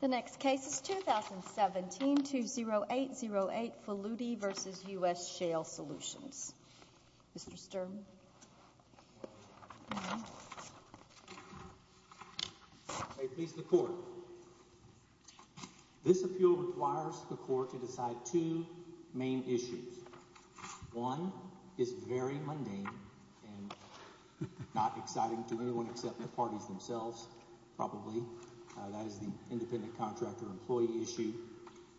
The next case is 2017-20808, Faludi v. U.S. Shale Solutions, Mr. Sturm. May it please the Court. This appeal requires the Court to decide two main issues. One is very mundane and not exciting to anyone except the parties themselves, probably. That is the independent contractor employee issue,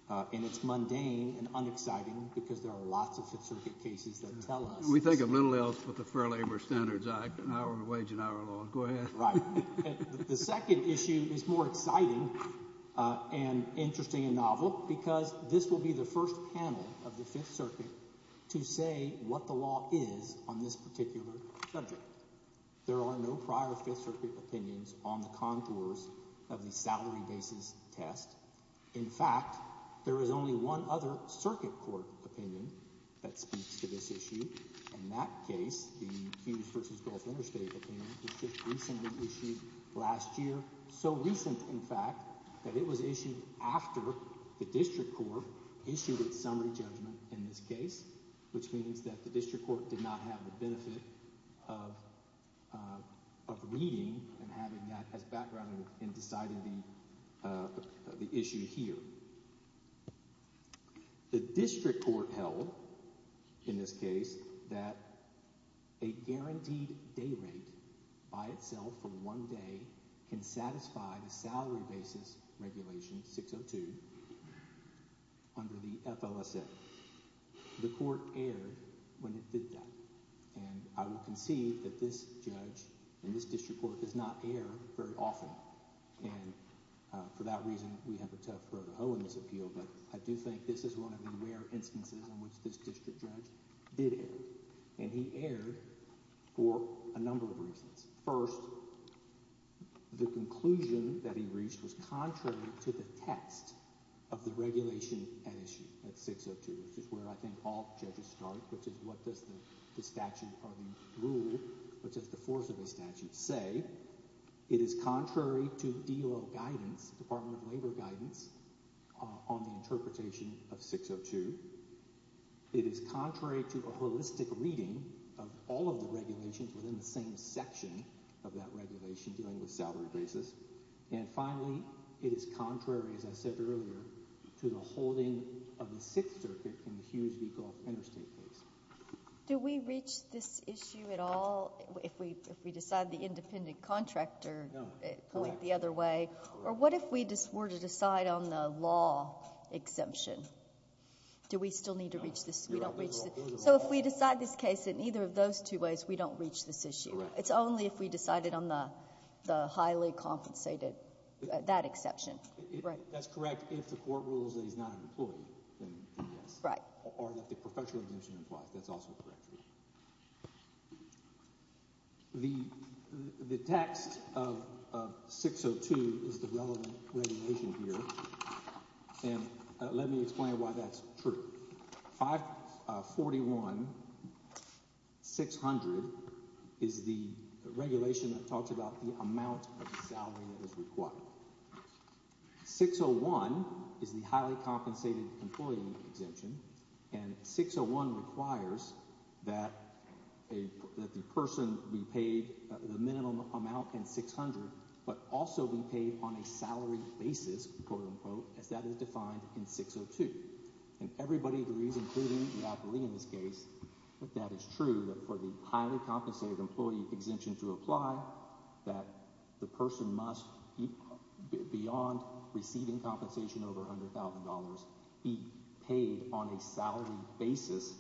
and it's mundane and unexciting because there are lots of Fifth Circuit cases that tell us. We think of little else but the Fair Labor Standards Act, an hour wage, an hour long. Go ahead. Right. The second issue is more exciting and interesting and novel because this will be the first panel of the Fifth Circuit to say what the law is on this particular subject. There are no prior Fifth Circuit opinions on the contours of the salary basis test. In fact, there is only one other Circuit Court opinion that speaks to this issue, and that case, the Hughes v. Gulf Interstate, was just recently issued last year. So recent, in fact, that it was issued after the District Court issued its summary judgment in this case, which means that the District Court did not have the benefit of reading and having that as background and decided the issue here. The District Court held, in this case, that a guaranteed day rate by itself for one day can satisfy the salary basis regulation 602 under the FLSA. The Court erred when it did that, and I will concede that this judge and this I do think this is one of the rare instances in which this district judge did it, and he erred for a number of reasons. First, the conclusion that he reached was contrary to the text of the regulation at issue, at 602, which is where I think all judges start, which is what does the statute or the rule, what does the force of the statute say? Second, it is contrary to DOL guidance, Department of Labor guidance, on the interpretation of 602. It is contrary to a holistic reading of all of the regulations within the same section of that regulation dealing with salary basis. And finally, it is contrary, as I said earlier, to the holding of the Sixth Circuit in the Hughes v. Gulf Interstate case. Do we reach this issue at all if we decide the independent contractor point the other way? Or what if we were to decide on the law exemption? Do we still need to reach this? So if we decide this case in either of those two ways, we don't reach this issue. It's only if we decided on the highly compensated, that exception. That's correct. If the court rules that he's not an employee, then yes. Or that the professional exemption implies, that's also correct. The text of 602 is the relevant regulation here, and let me explain why that's true. 541-600 is the regulation that talks about the amount of salary that is required. 601 is the highly compensated employee exemption. And 601 requires that the person be paid the minimum amount in 600, but also be paid on a salary basis, quote-unquote, as that is defined in 602. And everybody agrees, including the appellee in this case, that that is true, that for the highly compensated employee exemption to apply, that the person must, beyond receiving compensation over $100,000, be paid on a salary basis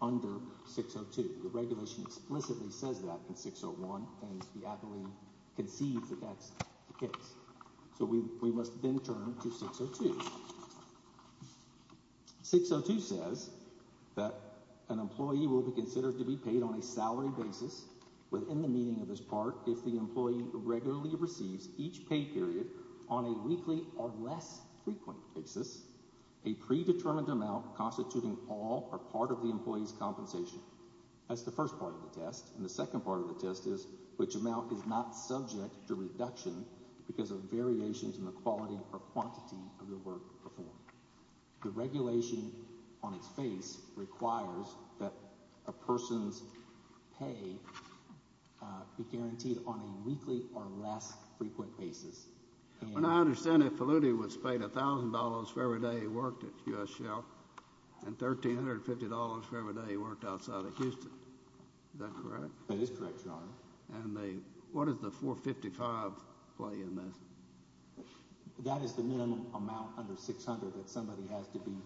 under 602. The regulation explicitly says that in 601, and the appellee concedes that that's the case. So we must then turn to 602. 602 says that an employee will be considered to be paid on a salary basis, within the meaning of this part, if the employee regularly receives each pay period on a weekly or less frequent basis, a predetermined amount constituting all or part of the employee's compensation. That's the first part of the test. And the second part of the test is which amount is not subject to reduction because of variations in the quality or quantity of the work performed. The regulation on its face requires that a person's pay be guaranteed on a weekly or less frequent basis. And I understand that Faludi was paid $1,000 for every day he worked at U.S. Shell and $1,350 for every day he worked outside of Houston. Is that correct? That is correct, Your Honor. And what is the 455 play in this? That is the minimum amount under 600 that somebody has to be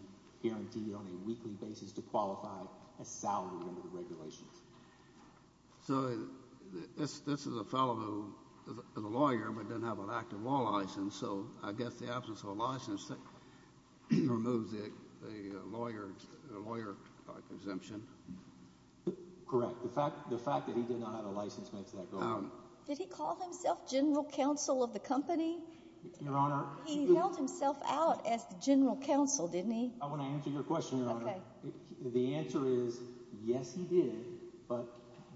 guaranteed on a weekly basis to qualify a salary under the regulations. So this is a fellow who is a lawyer but doesn't have an active law license, so I guess the absence of a license removes the lawyer exemption. Correct. The fact that he did not have a license makes that go away. Did he call himself general counsel of the company? Your Honor. He held himself out as the general counsel, didn't he? I want to answer your question, Your Honor. Okay. The answer is yes, he did, but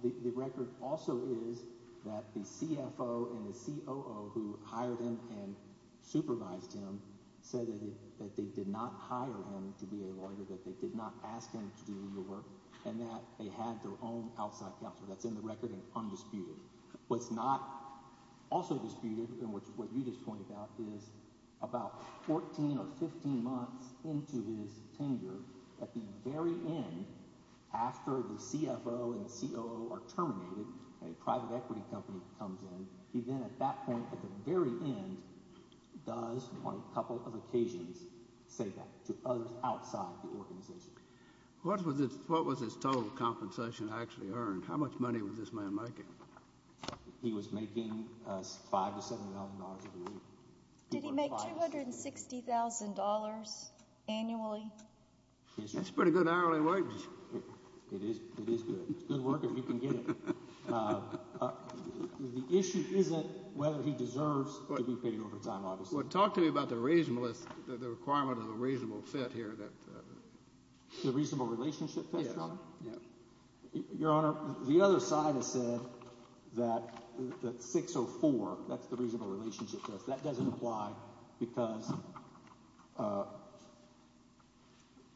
the record also is that the CFO and the COO who hired him and supervised him said that they did not hire him to be a lawyer, that they did not ask him to do legal work, and that they had their own outside counsel. That's in the record and undisputed. What's not also disputed and what you just pointed out is about 14 or 15 months into his tenure, at the very end, after the CFO and the COO are terminated, a private equity company comes in, he then at that point, at the very end, does on a couple of occasions say that to others outside the organization. What was his total compensation actually earned? How much money was this man making? He was making $5,000 to $7,000 a week. Did he make $260,000 annually? That's pretty good hourly wage. It is good. It's good work if you can get it. The issue isn't whether he deserves to be paid overtime, obviously. Well, talk to me about the requirement of the reasonable fit here. The reasonable relationship fit, Your Honor? Yes. Your Honor, the other side has said that 604, that's the reasonable relationship test, that doesn't apply because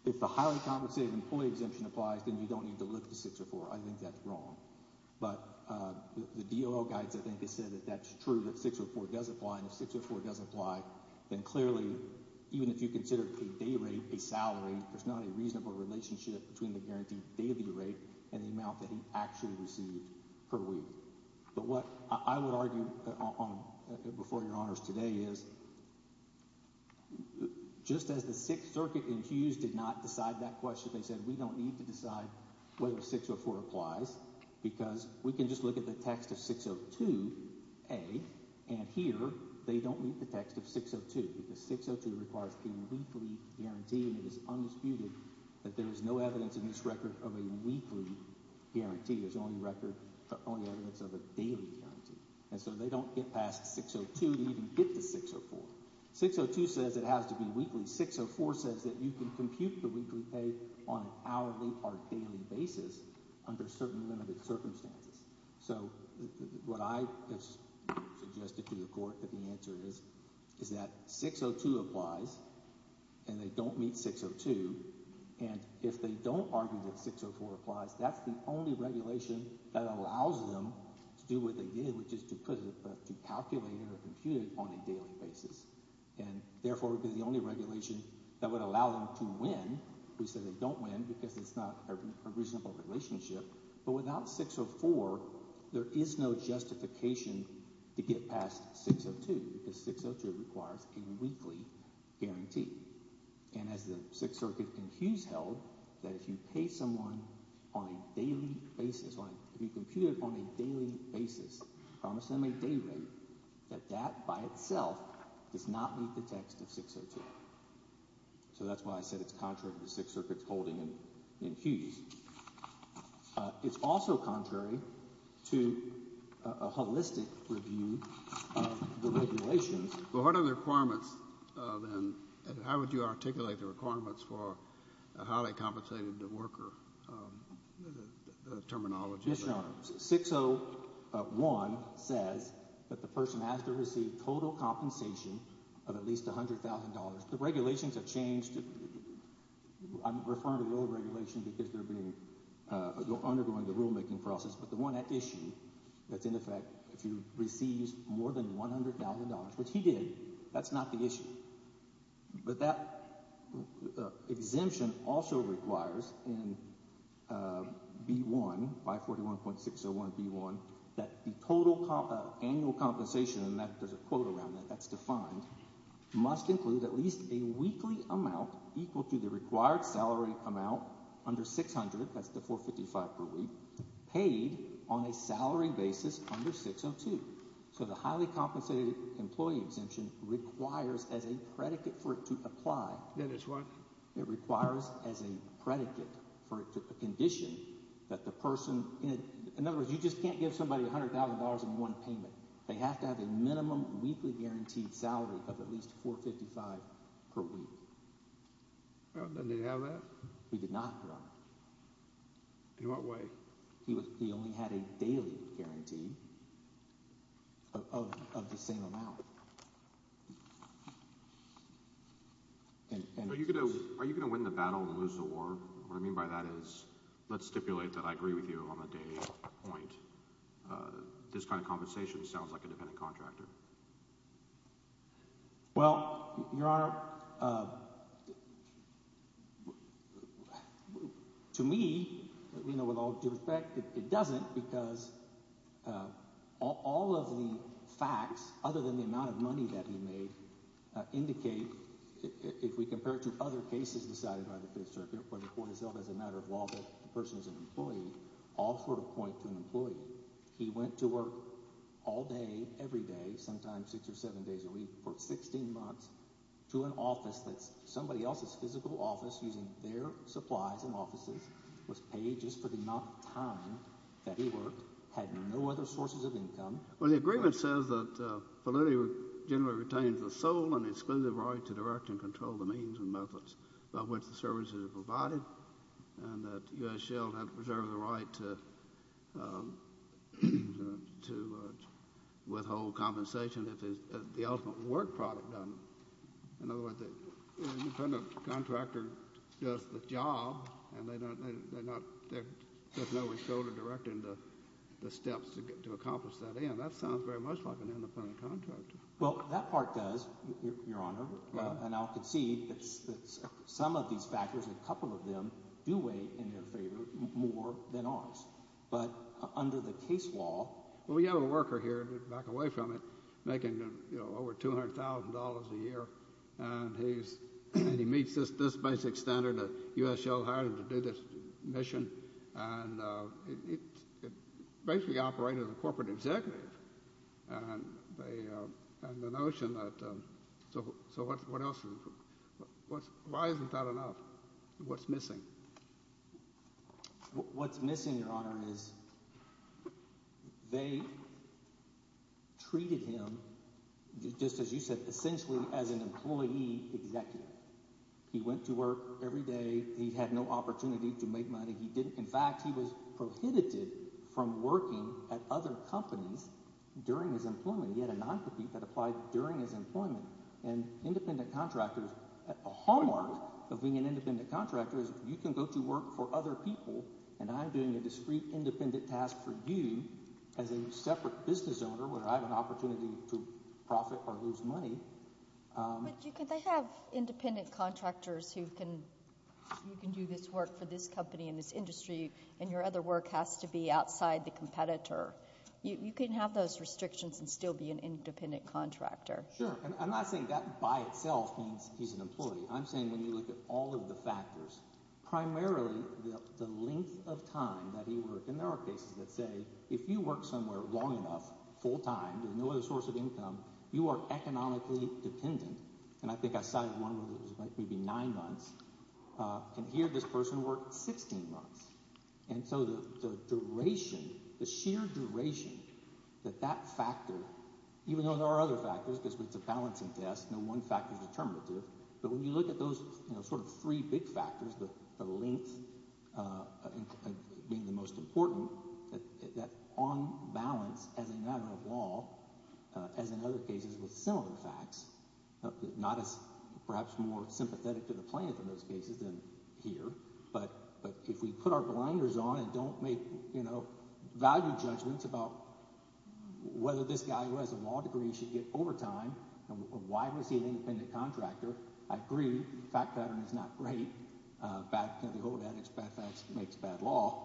if the highly compensated employee exemption applies, then you don't need to look to 604. I think that's wrong. But the DOL guides, I think, have said that that's true, that 604 does apply, and if 604 does apply, then clearly, even if you consider a day rate, a salary, there's not a reasonable relationship between the guaranteed daily rate and the amount that he actually received per week. But what I would argue before Your Honors today is just as the Sixth Circuit in Hughes did not decide that question, they said we don't need to decide whether 604 applies because we can just look at the text of 602A, and here they don't meet the text of 602 because 602 requires a weekly guarantee, and it is undisputed that there is no evidence in this record of a weekly guarantee. There's only record, only evidence of a daily guarantee. And so they don't get past 602 to even get to 604. 602 says it has to be weekly. 604 says that you can compute the weekly pay on an hourly or daily basis under certain limited circumstances. So what I have suggested to the court that the answer is, is that 602 applies and they don't meet 602, and if they don't argue that 604 applies, that's the only regulation that allows them to do what they did, which is to put it – to calculate it or compute it on a daily basis. And therefore it would be the only regulation that would allow them to win. We say they don't win because it's not a reasonable relationship, but without 604, there is no justification to get past 602 because 602 requires a weekly guarantee. And as the Sixth Circuit in Hughes held, that if you pay someone on a daily basis – if you compute it on a daily basis, promise them a day rate, that that by itself does not meet the text of 602. So that's why I said it's contrary to the Sixth Circuit's holding in Hughes. It's also contrary to a holistic review of the regulations. Well, what are the requirements then, and how would you articulate the requirements for a highly compensated worker terminology? Yes, Your Honor. 601 says that the person has to receive total compensation of at least $100,000. The regulations have changed. I'm referring to the old regulation because they're undergoing the rulemaking process, but the one at issue that's in effect, if you receive more than $100,000, which he did, that's not the issue. But that exemption also requires in B1, 541.601B1, that the total annual compensation – and there's a quote around that that's defined – must include at least a weekly amount equal to the required salary amount under 600 – that's the 455 per week – paid on a salary basis under 602. So the highly compensated employee exemption requires as a predicate for it to apply – Then it's what? It requires as a predicate for it to – a condition that the person – in other words, you just can't give somebody $100,000 in one payment. They have to have a minimum weekly guaranteed salary of at least 455 per week. Well, then did he have that? He did not, Your Honor. In what way? He only had a daily guarantee of the same amount. Are you going to win the battle and lose the war? What I mean by that is let's stipulate that I agree with you on the daily point. This kind of compensation sounds like a dependent contractor. Well, Your Honor, to me, with all due respect, it doesn't because all of the facts, other than the amount of money that he made, indicate – if we compare it to other cases decided by the Fifth Circuit where the court has held as a matter of law that the person is an employee, all sort of point to an employee. He went to work all day, every day, sometimes six or seven days a week for 16 months to an office that's somebody else's physical office using their supplies and offices, was paid just for the amount of time that he worked, had no other sources of income. Well, the agreement says that validity generally retains the sole and exclusive right to direct and control the means and methods by which the services are provided and that U.S. Shell has preserved the right to withhold compensation if the ultimate work product done. In other words, a dependent contractor does the job, and they're not – there's no withholding direct in the steps to accomplish that end. That sounds very much like an independent contractor. Well, that part does, Your Honor, and I'll concede that some of these factors, a couple of them, do weigh in their favor more than ours. But under the case law – Well, we have a worker here back away from it making over $200,000 a year, and he meets this basic standard that U.S. Shell hired him to do this mission, and it basically operated as a corporate executive. And the notion that – so what else – why isn't that enough? What's missing? What's missing, Your Honor, is they treated him, just as you said, essentially as an employee executive. He went to work every day. He had no opportunity to make money. He didn't – in fact, he was prohibited from working at other companies during his employment. He had a non-compete that applied during his employment. And independent contractors – a hallmark of being an independent contractor is you can go to work for other people, and I'm doing a discrete, independent task for you as a separate business owner where I have an opportunity to profit or lose money. But you can – they have independent contractors who can do this work for this company and this industry, and your other work has to be outside the competitor. You can have those restrictions and still be an independent contractor. Sure, and I'm not saying that by itself means he's an employee. I'm saying when you look at all of the factors, primarily the length of time that he worked. And there are cases that say if you work somewhere long enough, full time, with no other source of income, you are economically dependent. And I think I cited one where it was maybe nine months. And here this person worked 16 months. And so the duration, the sheer duration that that factor, even though there are other factors because it's a balancing test, no one factor is determinative. But when you look at those sort of three big factors, the length being the most important, that on balance as a matter of law, as in other cases with similar facts, not as perhaps more sympathetic to the plaintiff in those cases than here. But if we put our blinders on and don't make value judgments about whether this guy who has a law degree should get overtime and why was he an independent contractor, I agree. The fact pattern is not great. The old adage, bad facts makes bad law.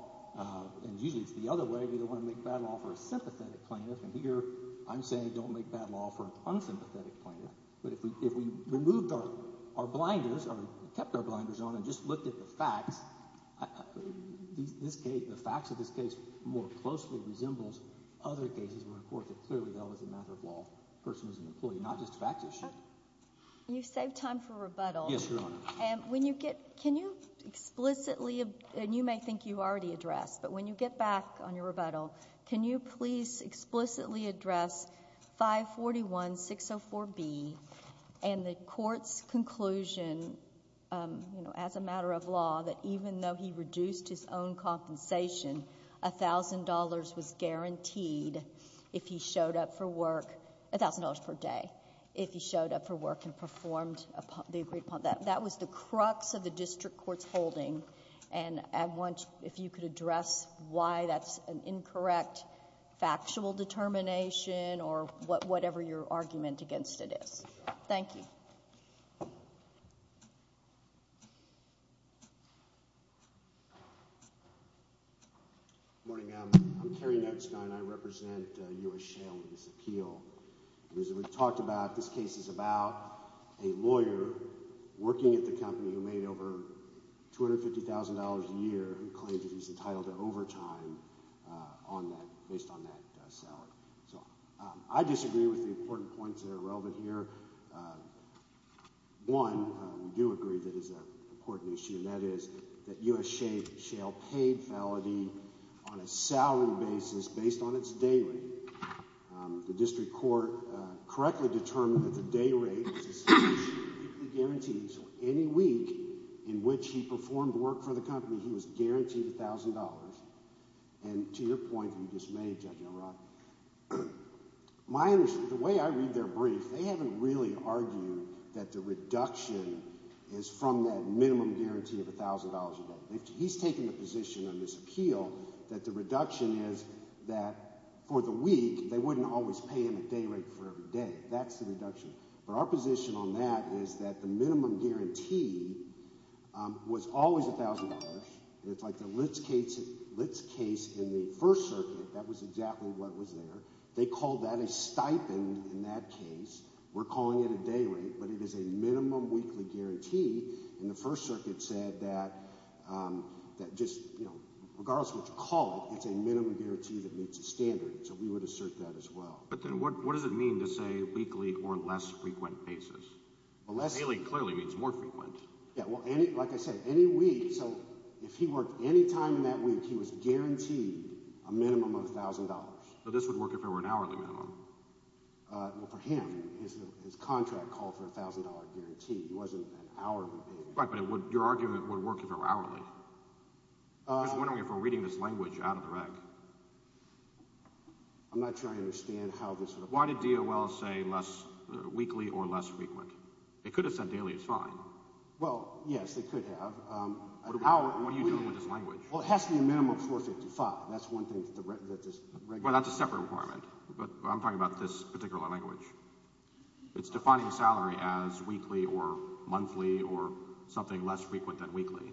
And usually it's the other way. We don't want to make bad law for a sympathetic plaintiff. And here I'm saying don't make bad law for an unsympathetic plaintiff. But if we removed our blinders or kept our blinders on and just looked at the facts, the facts of this case more closely resembles other cases where, of course, it clearly was a matter of law. The person was an employee, not just a fact issue. You saved time for rebuttal. Yes, Your Honor. Can you explicitly, and you may think you already addressed, but when you get back on your rebuttal, can you please explicitly address 541-604-B and the court's conclusion as a matter of law that even though he reduced his own compensation, $1,000 was guaranteed if he showed up for work, $1,000 per day, if he showed up for work and performed the agreed upon. That was the crux of the district court's holding. And I want, if you could address why that's an incorrect factual determination or whatever your argument against it is. Thank you. Good morning. I'm Terry Noetzke and I represent U.S. Shale with this appeal. We talked about this case is about a lawyer working at the company who made over $250,000 a year and claimed that he's entitled to overtime on that, based on that salary. So I disagree with the important points that are relevant here. One, we do agree that it's an important issue, and that is that U.S. Shale paid Valadie on a salary basis based on its day rate. The district court correctly determined that the day rate was guaranteed, so any week in which he performed work for the company, he was guaranteed $1,000. And to your point you just made, Judge O'Rourke, the way I read their brief, they haven't really argued that the reduction is from that minimum guarantee of $1,000 a day. He's taken the position on this appeal that the reduction is that for the week, they wouldn't always pay him a day rate for every day. That's the reduction. But our position on that is that the minimum guarantee was always $1,000. It's like the Litz case in the First Circuit. That was exactly what was there. They called that a stipend in that case. We're calling it a day rate, but it is a minimum weekly guarantee. And the First Circuit said that just regardless of what you call it, it's a minimum guarantee that meets the standard, so we would assert that as well. But then what does it mean to say weekly or less frequent basis? Daily clearly means more frequent. Yeah, well, like I said, any week – so if he worked any time in that week, he was guaranteed a minimum of $1,000. But this would work if it were an hourly minimum. Well, for him, his contract called for a $1,000 guarantee. It wasn't an hourly minimum. Right, but your argument would work if it were hourly. I'm just wondering if we're reading this language out of the rec. I'm not sure I understand how this would apply. Why did DOL say less weekly or less frequent? They could have said daily is fine. Well, yes, they could have. What are you doing with this language? Well, it has to be a minimum of $4.55. That's one thing that this – Well, that's a separate requirement, but I'm talking about this particular language. It's defining salary as weekly or monthly or something less frequent than weekly.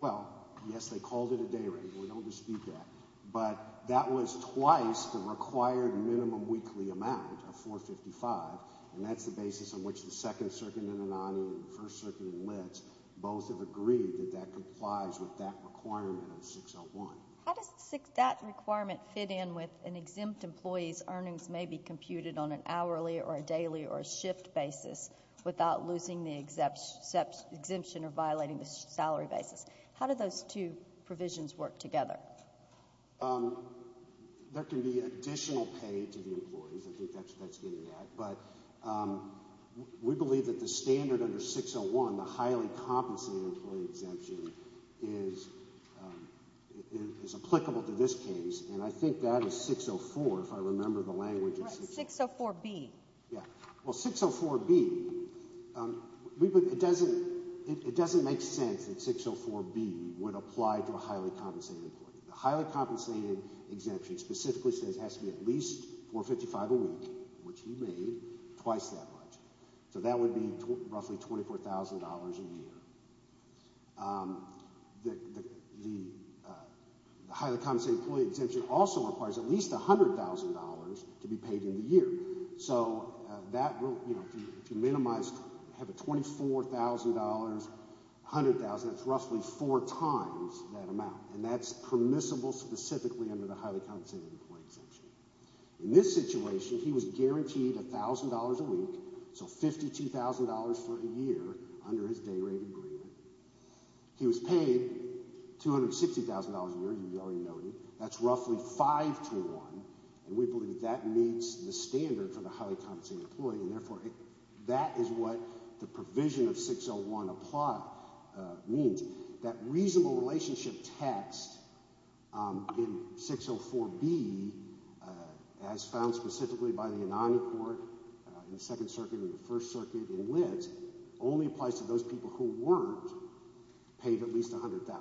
Well, yes, they called it a day rate. We don't dispute that. But that was twice the required minimum weekly amount of $4.55, and that's the basis on which the Second Circuit in Anaheim and the First Circuit in Litz both have agreed that that complies with that requirement of 601. How does that requirement fit in with an exempt employee's earnings may be computed on an hourly or a daily or a shift basis without losing the exemption or violating the salary basis? How do those two provisions work together? There can be additional pay to the employees. I think that's where that's getting at. But we believe that the standard under 601, the highly compensated employee exemption, is applicable to this case, and I think that is 604, if I remember the language. Right, 604B. Well, 604B, it doesn't make sense that 604B would apply to a highly compensated employee. The highly compensated exemption specifically says it has to be at least $4.55 a week, which he made twice that much. So that would be roughly $24,000 a year. The highly compensated employee exemption also requires at least $100,000 to be paid in the year. So if you minimize, have a $24,000, $100,000, that's roughly four times that amount, and that's permissible specifically under the highly compensated employee exemption. In this situation, he was guaranteed $1,000 a week, so $52,000 for a year under his day rate agreement. He was paid $260,000 a year, as we already noted. That's roughly 5-to-1, and we believe that meets the standard for the highly compensated employee, and therefore that is what the provision of 601 means. That reasonable relationship text in 604B, as found specifically by the Anonymy Court in the Second Circuit and the First Circuit in Lit, only applies to those people who weren't paid at least $100,000.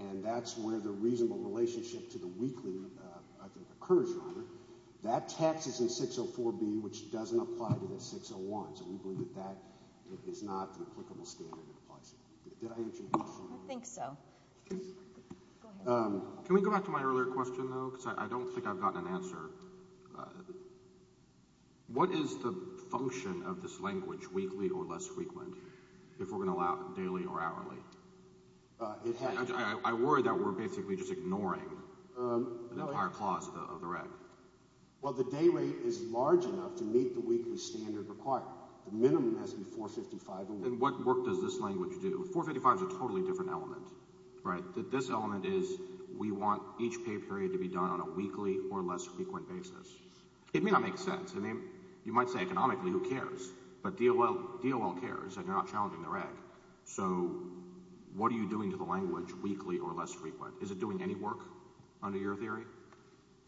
And that's where the reasonable relationship to the weekly occurs. That text is in 604B, which doesn't apply to the 601, so we believe that that is not an applicable standard. Did I answer your question? I think so. Can we go back to my earlier question, though, because I don't think I've gotten an answer. What is the function of this language, weekly or less frequent, if we're going to allow daily or hourly? I worry that we're basically just ignoring an entire clause of the reg. Well, the day rate is large enough to meet the weekly standard required. The minimum has to be $455 a week. And what work does this language do? $455 is a totally different element. Right. This element is we want each pay period to be done on a weekly or less frequent basis. It may not make sense. I mean, you might say economically, who cares? But DOL cares that you're not challenging the reg. So what are you doing to the language, weekly or less frequent? Is it doing any work under your theory?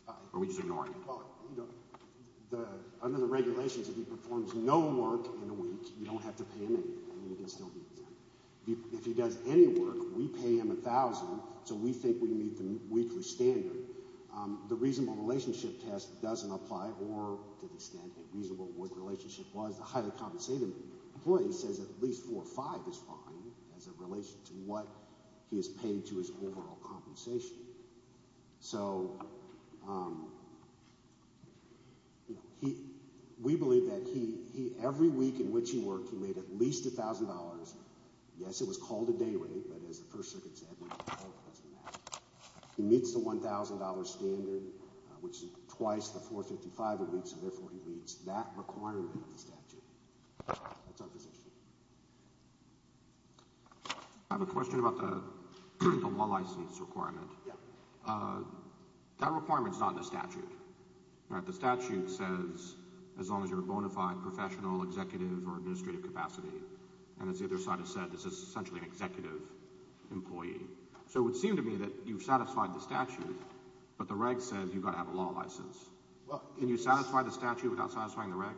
Or are we just ignoring it? Well, under the regulations, if he performs no work in a week, you don't have to pay him anything. If he does any work, we pay him $1,000, so we think we meet the weekly standard. The reasonable relationship test doesn't apply, or to the extent a reasonable worth relationship was, the highly compensated employee says at least $455 is fine as it relates to what he has paid to his overall compensation. So we believe that every week in which he worked, he made at least $1,000. Yes, it was called a day rate, but as the First Circuit said, we hope it doesn't matter. He meets the $1,000 standard, which is twice the $455 a week, so therefore he meets that requirement of the statute. That's our position. I have a question about the law license requirement. That requirement is not in the statute. The statute says as long as you're a bona fide professional, executive, or administrative capacity. And as the other side has said, this is essentially an executive employee. So it would seem to me that you've satisfied the statute, but the reg says you've got to have a law license. Can you satisfy the statute without satisfying the reg?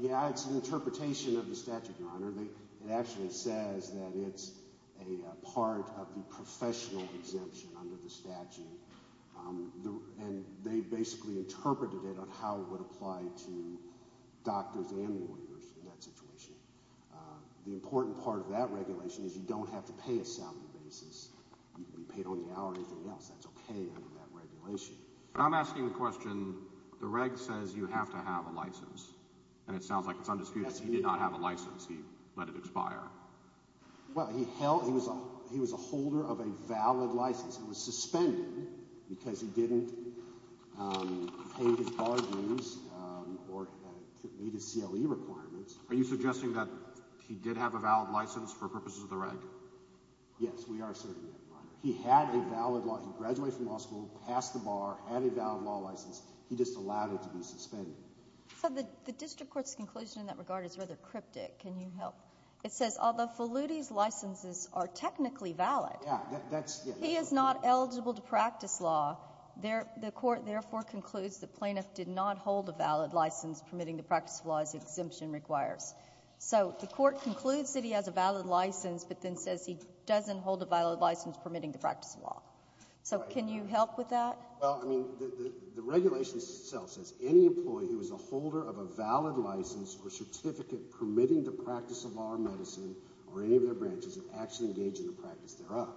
Yeah, it's an interpretation of the statute, Your Honor. It actually says that it's a part of the professional exemption under the statute. And they basically interpreted it on how it would apply to doctors and lawyers in that situation. The important part of that regulation is you don't have to pay a salary basis. You can be paid on the hour or anything else. That's okay under that regulation. I'm asking the question, the reg says you have to have a license. And it sounds like it's undisputed that he did not have a license. He let it expire. Well, he was a holder of a valid license. It was suspended because he didn't pay his bar dues or meet his CLE requirements. Are you suggesting that he did have a valid license for purposes of the reg? Yes, we are asserting that, Your Honor. He had a valid law. He graduated from law school, passed the bar, had a valid law license. He just allowed it to be suspended. So the district court's conclusion in that regard is rather cryptic. Can you help? It says, although Faludi's licenses are technically valid, he is not eligible to practice law. The court therefore concludes the plaintiff did not hold a valid license permitting the practice of law as the exemption requires. So the court concludes that he has a valid license but then says he doesn't hold a valid license permitting the practice of law. So can you help with that? Well, I mean, the regulation itself says any employee who is a holder of a valid license or certificate permitting the practice of law or medicine or any of their branches should actually engage in the practice thereof.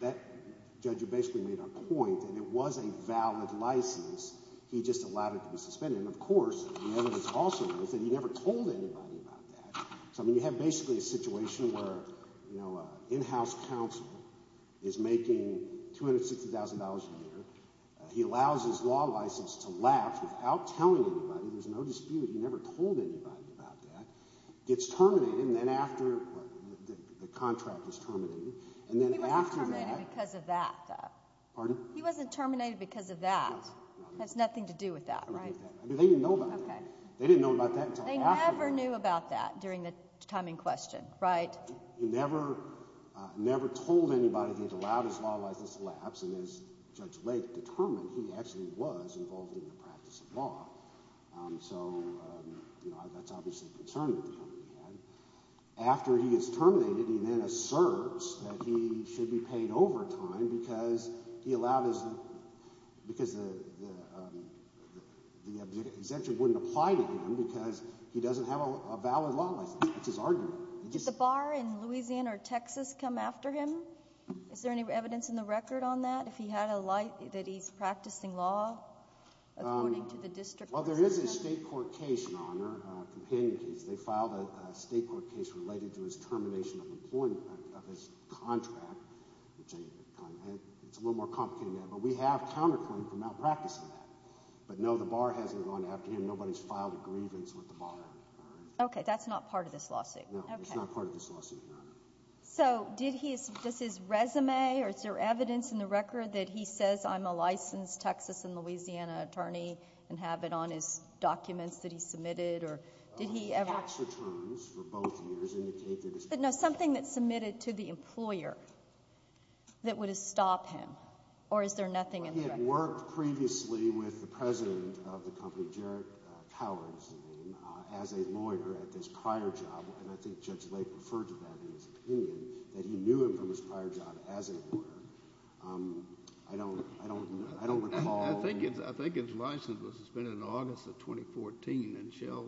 That judge basically made a point that it was a valid license. He just allowed it to be suspended. And, of course, the evidence also is that he never told anybody about that. So, I mean, you have basically a situation where, you know, an in-house counsel is making $260,000 a year. He allows his law license to lapse without telling anybody. There's no dispute. He never told anybody about that. Gets terminated, and then after the contract is terminated, and then after that. He wasn't terminated because of that, though. Pardon? He wasn't terminated because of that. That has nothing to do with that, right? I mean, they didn't know about that. They didn't know about that until after the contract. They never knew about that during the time in question, right? He never told anybody that he had allowed his law license to lapse. And as Judge Lake determined, he actually was involved in the practice of law. So, you know, that's obviously a concern that the company had. After he is terminated, he then asserts that he should be paid overtime because he allowed his – because the exemption wouldn't apply to him because he doesn't have a valid law license. That's his argument. Did the bar in Louisiana or Texas come after him? Is there any evidence in the record on that, if he had a – that he's practicing law according to the district? Well, there is a state court case, Your Honor, a companion case. They filed a state court case related to his termination of employment, of his contract. It's a little more complicated than that, but we have counterclaim for malpractice in that. But, no, the bar hasn't gone after him. Nobody's filed a grievance with the bar. Okay. That's not part of this lawsuit. No, it's not part of this lawsuit, Your Honor. So did he – does his resume or is there evidence in the record that he says, I'm a licensed Texas and Louisiana attorney and have it on his documents that he submitted? Or did he ever – Tax returns for both years indicate that his – But, no, something that's submitted to the employer that would have stopped him. Or is there nothing in the record? Well, he had worked previously with the president of the company, Jared Coward is the name, as a lawyer at this prior job, and I think Judge Lake referred to that in his opinion, that he knew him from his prior job as a lawyer. I don't recall – I think his license was suspended in August of 2014, and Shell,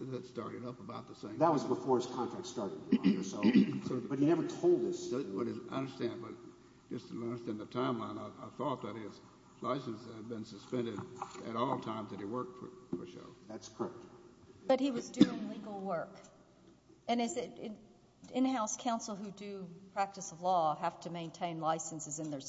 that started up about the same time. That was before his contract started, Your Honor. But he never told us. I understand, but just to understand the timeline, I thought that his license had been suspended at all times that he worked for Shell. That's correct. But he was doing legal work. And is it – in-house counsel who do practice of law have to maintain licenses in their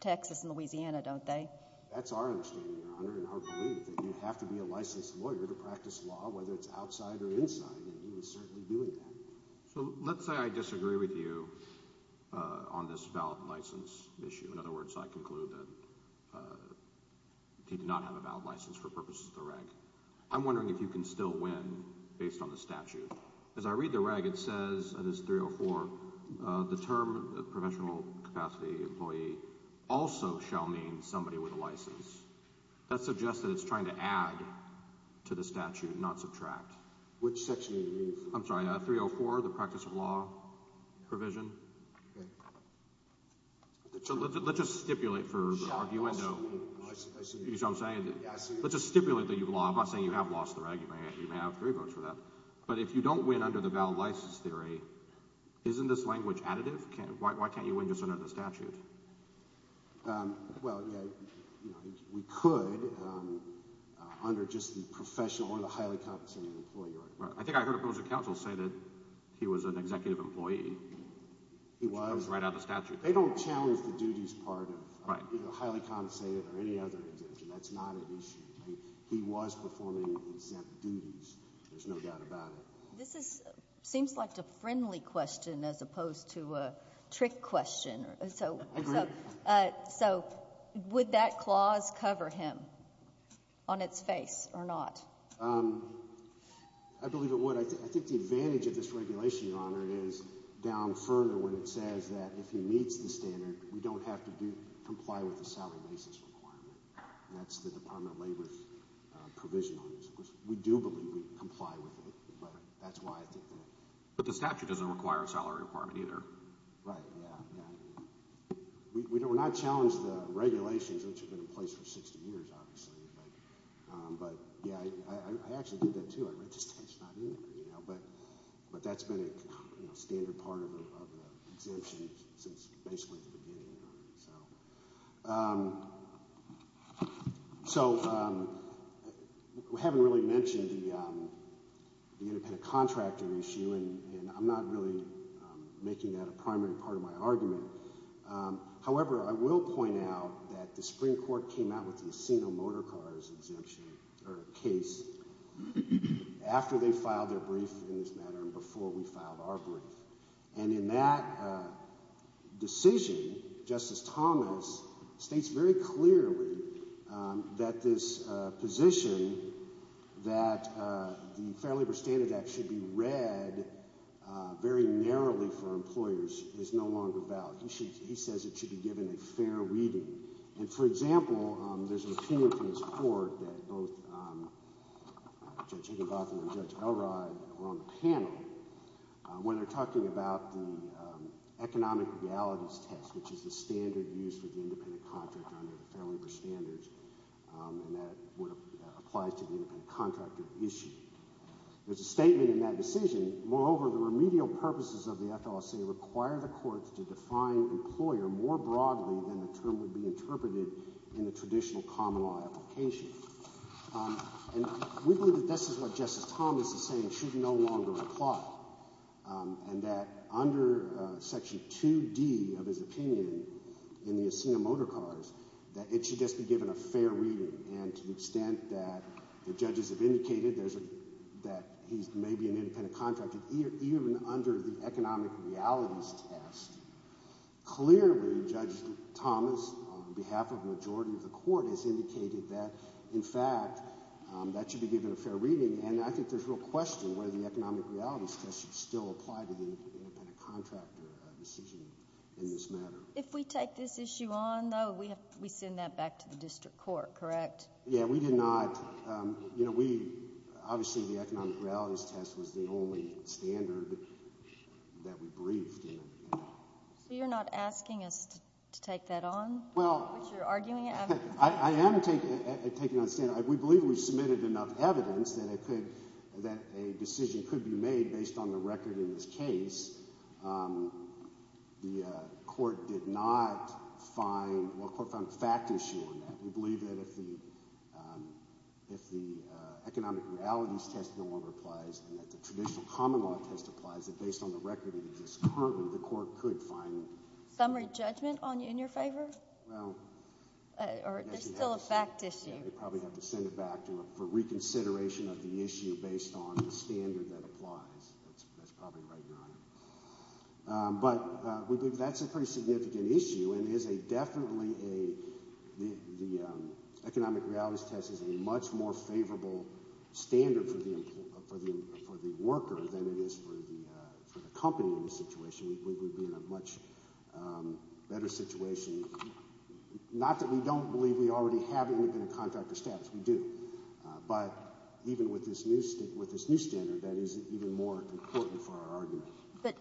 Texas and Louisiana, don't they? That's our understanding, Your Honor, and our belief, that you have to be a licensed lawyer to practice law, whether it's outside or inside, and he was certainly doing that. So let's say I disagree with you on this valid license issue. In other words, I conclude that he did not have a valid license for purposes of the rank. I'm wondering if you can still win based on the statute. As I read the reg, it says – that is 304 – the term professional capacity employee also shall mean somebody with a license. That suggests that it's trying to add to the statute, not subtract. Which section are you using? I'm sorry, 304, the practice of law provision. Okay. So let's just stipulate for arguendo. Shell, I'll stipulate. You see what I'm saying? Yes. Let's just stipulate that you've lost. I'm not saying you have lost the reg. You may have three votes for that. But if you don't win under the valid license theory, isn't this language additive? Why can't you win just under the statute? Well, yeah, we could under just the professional or the highly compensated employee. I think I heard a person at counsel say that he was an executive employee. He was. Which comes right out of the statute. They don't challenge the duties part of highly compensated or any other exemption. That's not an issue. He was performing exempt duties. There's no doubt about it. This seems like a friendly question as opposed to a trick question. I agree. So would that clause cover him on its face or not? I believe it would. I think the advantage of this regulation, Your Honor, is down further when it says that if he meets the standard, we don't have to comply with the salary basis requirement. That's the Department of Labor's provision on this. We do believe we comply with it. But that's why I think that. But the statute doesn't require a salary requirement either. Right. Yeah. Yeah. We're not challenged the regulations which have been in place for 60 years, obviously. But, yeah, I actually did that too. I read the statute. It's not in there. But that's been a standard part of the exemption since basically the beginning. So we haven't really mentioned the independent contractor issue, and I'm not really making that a primary part of my argument. However, I will point out that the Supreme Court came out with the Asino Motor Cars exemption or case after they filed their brief in this matter and before we filed our brief. And in that decision, Justice Thomas states very clearly that this position that the Fair Labor Standard Act should be read very narrowly for employers is no longer valid. He says it should be given a fair reading. And, for example, there's an opinion from this court that both Judge Higginbotham and Judge Elrod were on the panel when they're talking about the economic realities test, which is the standard used for the independent contractor under the Fair Labor Standards, and that applies to the independent contractor issue. There's a statement in that decision. Moreover, the remedial purposes of the FLSA require the courts to define employer more broadly than the term would be interpreted in the traditional common law application. And we believe that this is what Justice Thomas is saying should no longer apply and that under Section 2D of his opinion in the Asino Motor Cars that it should just be given a fair reading. And to the extent that the judges have indicated that he's maybe an independent contractor, even under the economic realities test, clearly Judge Thomas, on behalf of the majority of the court, has indicated that, in fact, that should be given a fair reading. And I think there's real question whether the economic realities test should still apply to the independent contractor decision in this matter. If we take this issue on, though, we send that back to the district court, correct? Yeah, we did not. Obviously, the economic realities test was the only standard that we briefed. So you're not asking us to take that on, which you're arguing? I am taking on the standard. We believe we submitted enough evidence that a decision could be made based on the record in this case. The court did not find – well, the court found a fact issue on that. We believe that if the economic realities test no longer applies and that the traditional common law test applies, that based on the record that exists currently, the court could find – Summary judgment in your favor? Well – Or there's still a fact issue. Yeah, they probably have to send it back for reconsideration of the issue based on the standard that applies. That's probably right, Your Honor. But we believe that's a pretty significant issue and is definitely a – the economic realities test is a much more favorable standard for the worker than it is for the company in this situation. We would be in a much better situation. Not that we don't believe we already have independent contractor status. We do. But even with this new standard, that is even more important for our argument. But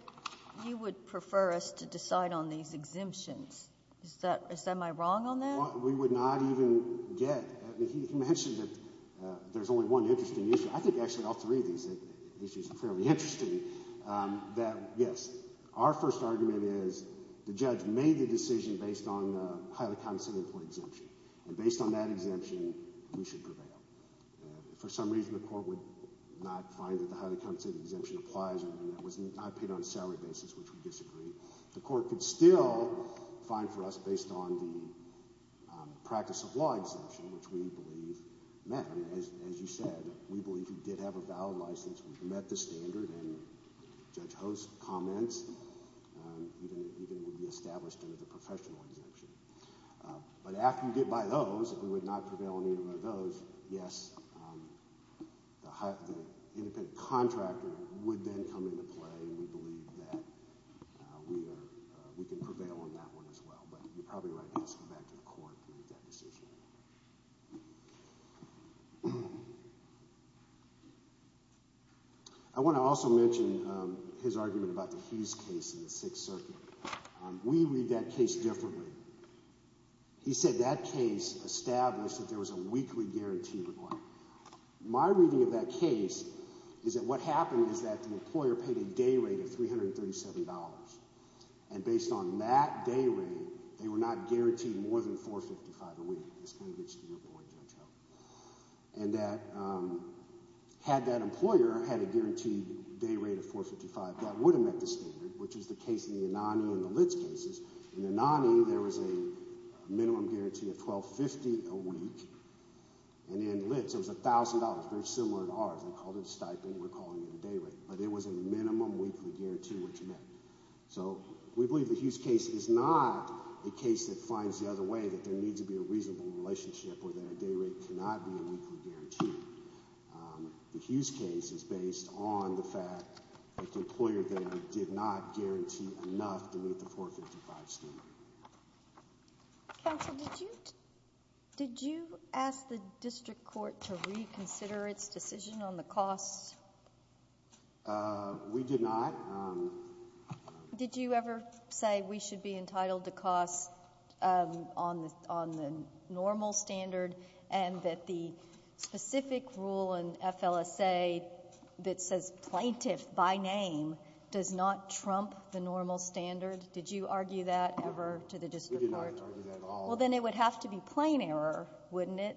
you would prefer us to decide on these exemptions. Is that my wrong on that? We would not even get – he mentioned that there's only one interesting issue. I think actually all three of these issues are fairly interesting. That, yes, our first argument is the judge made the decision based on the highly compensated employee exemption. And based on that exemption, we should prevail. If for some reason the court would not find that the highly compensated exemption applies and that it was not paid on a salary basis, which we disagree, the court could still find for us based on the practice of law exemption, which we believe met. As you said, we believe he did have a valid license. We met the standard, and Judge Ho's comments even would be established under the professional exemption. But after you get by those, if we would not prevail on either of those, yes, the independent contractor would then come into play, and we believe that we are – we can prevail on that one as well. But you're probably right to ask him back to the court to make that decision. I want to also mention his argument about the Hughes case in the Sixth Circuit. We read that case differently. He said that case established that there was a weekly guarantee requirement. My reading of that case is that what happened is that the employer paid a day rate of $337, and based on that day rate, they were not guaranteed more than $455 a week. This kind of gets to your point, Judge Ho. And that had that employer had a guaranteed day rate of $455, that would have met the standard, which was the case in the Anani and the Litz cases. In the Anani, there was a minimum guarantee of $1,250 a week. And in Litz, it was $1,000, very similar to ours. They called it a stipend. We're calling it a day rate. But it was a minimum weekly guarantee which met. So we believe the Hughes case is not a case that finds the other way, that there needs to be a reasonable relationship or that a day rate cannot be a weekly guarantee. The Hughes case is based on the fact that the employer then did not guarantee enough to meet the $455 standard. Counsel, did you ask the district court to reconsider its decision on the costs? We did not. Did you ever say we should be entitled to costs on the normal standard and that the specific rule in FLSA that says plaintiff by name does not trump the normal standard? Did you argue that ever to the district court? We did not argue that at all. Well, then it would have to be plain error, wouldn't it?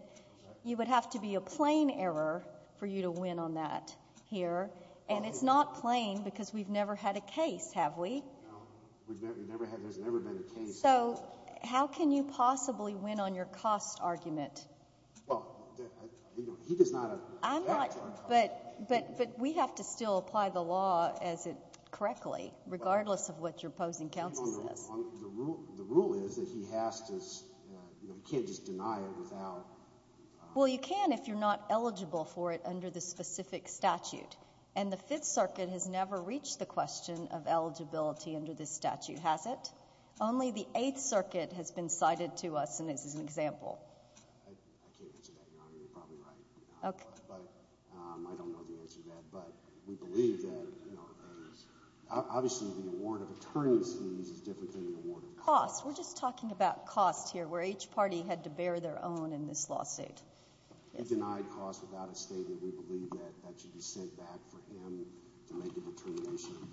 You would have to be a plain error for you to win on that here. And it's not plain because we've never had a case, have we? No. There's never been a case. So how can you possibly win on your cost argument? Well, he does not have to. But we have to still apply the law as it correctly, regardless of what your opposing counsel says. The rule is that he has to – he can't just deny it without – And the Fifth Circuit has never reached the question of eligibility under this statute, has it? Only the Eighth Circuit has been cited to us, and this is an example. I can't answer that, Your Honor. You're probably right. Okay. But I don't know the answer to that. But we believe that, you know, obviously the award of attorneys' fees is different than the award of costs. We're just talking about costs here, where each party had to bear their own in this lawsuit. He denied costs without a statement. We believe that that should be sent back for him to make a determination of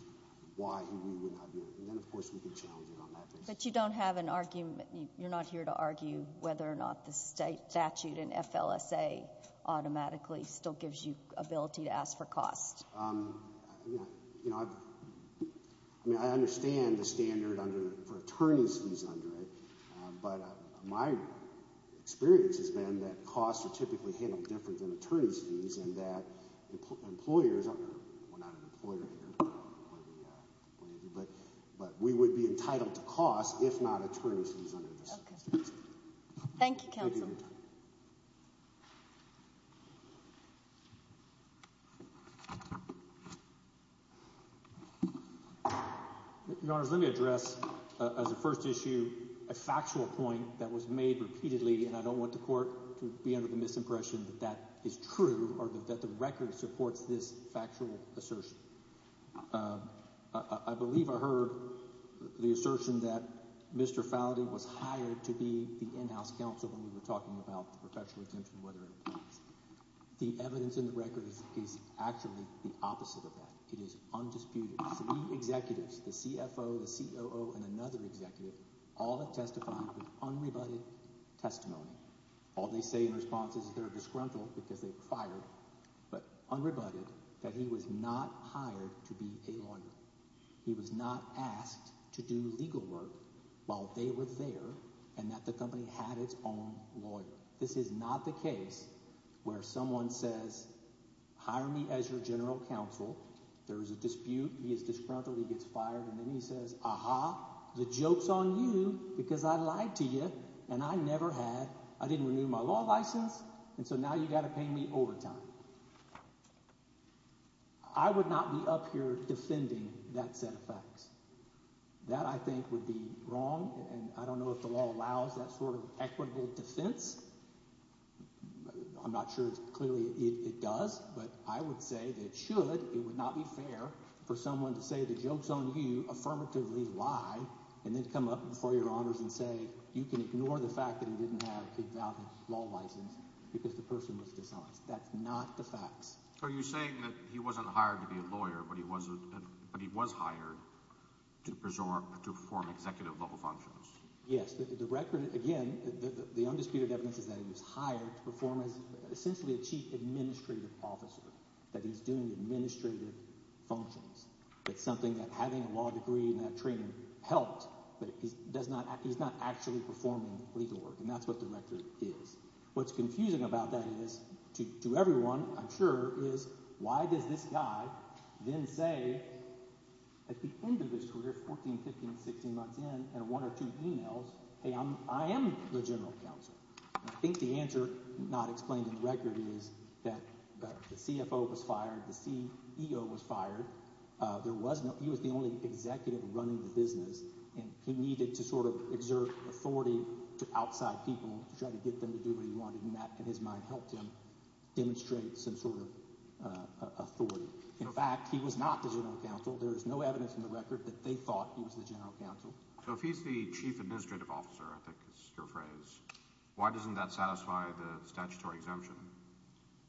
why he would or would not do it. And then, of course, we can challenge it on that basis. But you don't have an argument – you're not here to argue whether or not the statute in FLSA automatically still gives you ability to ask for costs? I mean, I understand the standard under – for attorneys' fees under it. But my experience has been that costs are typically handled different than attorneys' fees and that employers – we're not an employer here, but we would be entitled to costs if not attorneys' fees under this statute. Okay. Thank you, counsel. Thank you for your time. Your Honors, let me address as a first issue a factual point that was made repeatedly, and I don't want the court to be under the misimpression that that is true or that the record supports this factual assertion. I believe I heard the assertion that Mr. Faudi was hired to be the in-house counsel when we were talking about the perpetual exemption, whether it was. The evidence in the record is actually the opposite of that. It is undisputed. Three executives – the CFO, the COO, and another executive – all have testified with unrebutted testimony. All they say in response is they're disgruntled because they were fired, but unrebutted that he was not hired to be a lawyer. He was not asked to do legal work while they were there and that the company had its own lawyer. This is not the case where someone says, hire me as your general counsel. There is a dispute. He is disgruntled. He gets fired. And then he says, aha, the joke's on you because I lied to you and I never had – I didn't renew my law license, and so now you've got to pay me overtime. I would not be up here defending that set of facts. That, I think, would be wrong, and I don't know if the law allows that sort of equitable defense. I'm not sure clearly it does, but I would say that it should. It would not be fair for someone to say the joke's on you, affirmatively lie, and then come up before your honors and say you can ignore the fact that he didn't have a valid law license because the person was dishonest. That's not the facts. So you're saying that he wasn't hired to be a lawyer, but he was hired to perform executive-level functions. Yes, the record – again, the undisputed evidence is that he was hired to perform as essentially a chief administrative officer, that he's doing administrative functions. That's something that having a law degree and that training helped, but he's not actually performing legal work, and that's what the record is. What's confusing about that is, to everyone I'm sure, is why does this guy then say at the end of his career, 14, 15, 16 months in, in one or two emails, hey, I am the general counsel. I think the answer not explained in the record is that the CFO was fired. The CEO was fired. He was the only executive running the business, and he needed to sort of exert authority to outside people to try to get them to do what he wanted, and that, in his mind, helped him demonstrate some sort of authority. In fact, he was not the general counsel. There is no evidence in the record that they thought he was the general counsel. So if he's the chief administrative officer, I think is your phrase, why doesn't that satisfy the statutory exemption?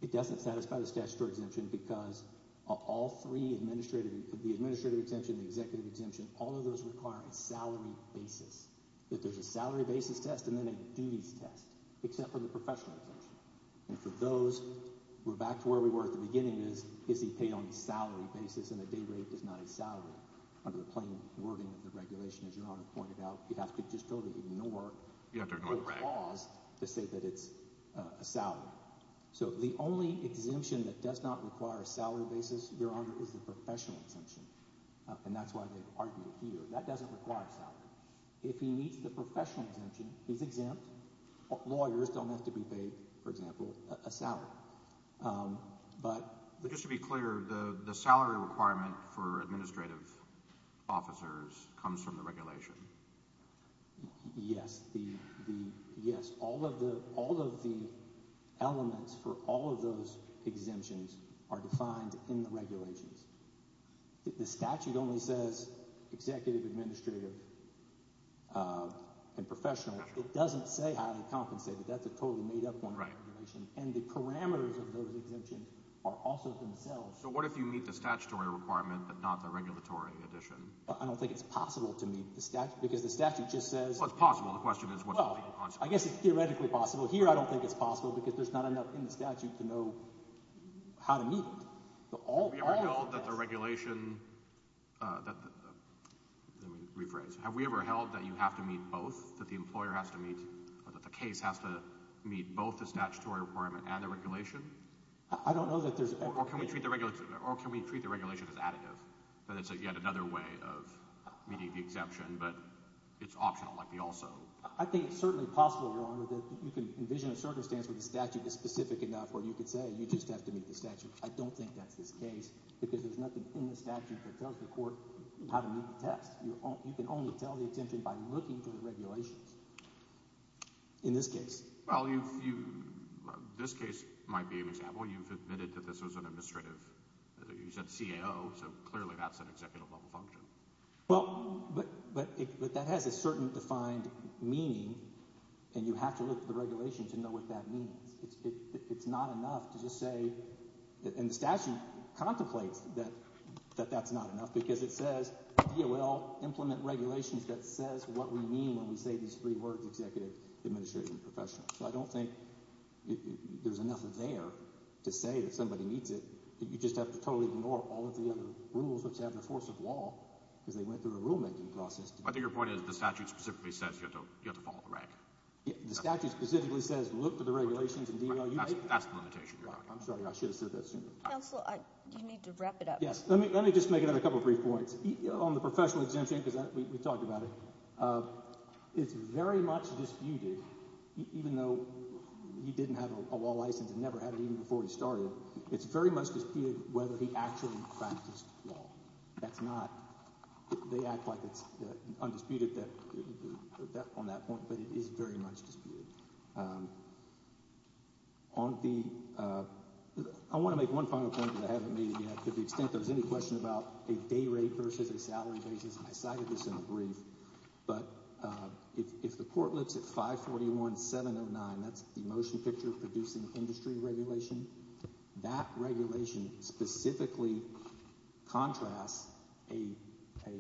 It doesn't satisfy the statutory exemption because of all three, the administrative exemption, the executive exemption, all of those require a salary basis. That there's a salary basis test and then a duties test, except for the professional exemption. And for those, we're back to where we were at the beginning is, is he paid on a salary basis and a day rate is not a salary. Under the plain wording of the regulation, as Your Honor pointed out, you have to just totally ignore the laws to say that it's a salary. So the only exemption that does not require a salary basis, Your Honor, is the professional exemption, and that's why they argue here. That doesn't require salary. If he meets the professional exemption, he's exempt. Lawyers don't have to be paid, for example, a salary. But— But just to be clear, the salary requirement for administrative officers comes from the regulation. Yes, all of the elements for all of those exemptions are defined in the regulations. The statute only says executive, administrative, and professional. It doesn't say highly compensated. That's a totally made up one. Right. And the parameters of those exemptions are also themselves. So what if you meet the statutory requirement but not the regulatory addition? I don't think it's possible to meet the statute because the statute just says— Well, it's possible. The question is what's possible. Well, I guess it's theoretically possible. Here I don't think it's possible because there's not enough in the statute to know how to meet it. Have we ever held that the regulation—let me rephrase. Have we ever held that you have to meet both, that the employer has to meet or that the case has to meet both the statutory requirement and the regulation? I don't know that there's ever— Or can we treat the regulation as additive? That it's yet another way of meeting the exemption, but it's optional like the also. I think it's certainly possible that you can envision a circumstance where the statute is specific enough where you could say you just have to meet the statute. I don't think that's the case because there's nothing in the statute that tells the court how to meet the test. You can only tell the exemption by looking for the regulations in this case. Well, this case might be an example. You've admitted that this was an administrative—you said CAO, so clearly that's an executive level function. Well, but that has a certain defined meaning, and you have to look at the regulations and know what that means. It's not enough to just say—and the statute contemplates that that's not enough because it says DOL, implement regulations that says what we mean when we say these three words, executive, administrative, and professional. So I don't think there's enough there to say that somebody meets it. You just have to totally ignore all of the other rules which have the force of law because they went through a rulemaking process. I think your point is the statute specifically says you have to follow the rank. The statute specifically says look for the regulations and DOL. That's the limitation, Your Honor. I'm sorry. I should have said that sooner. Counsel, you need to wrap it up. Yes. Let me just make another couple brief points. On the professional exemption, because we talked about it, it's very much disputed, even though he didn't have a law license and never had it even before he started. It's very much disputed whether he actually practiced law. That's not—they act like it's undisputed on that point, but it is very much disputed. On the—I want to make one final point because I haven't made it yet. To the extent there's any question about a day rate versus a salary basis, I cited this in a brief. But if the court looks at 541-709, that's the motion picture producing industry regulation, that regulation specifically contrasts a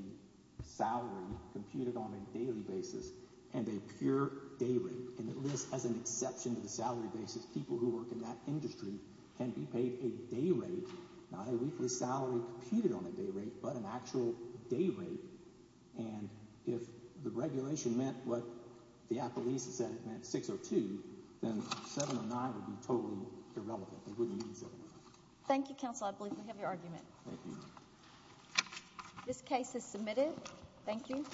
salary computed on a daily basis and a pure day rate. And at least as an exception to the salary basis, people who work in that industry can be paid a day rate, not a weekly salary computed on a day rate but an actual day rate. And if the regulation meant what the appellees said it meant, 602, then 709 would be totally irrelevant. They wouldn't need 709. Thank you, counsel. I believe we have your argument. Thank you. This case is submitted. Thank you.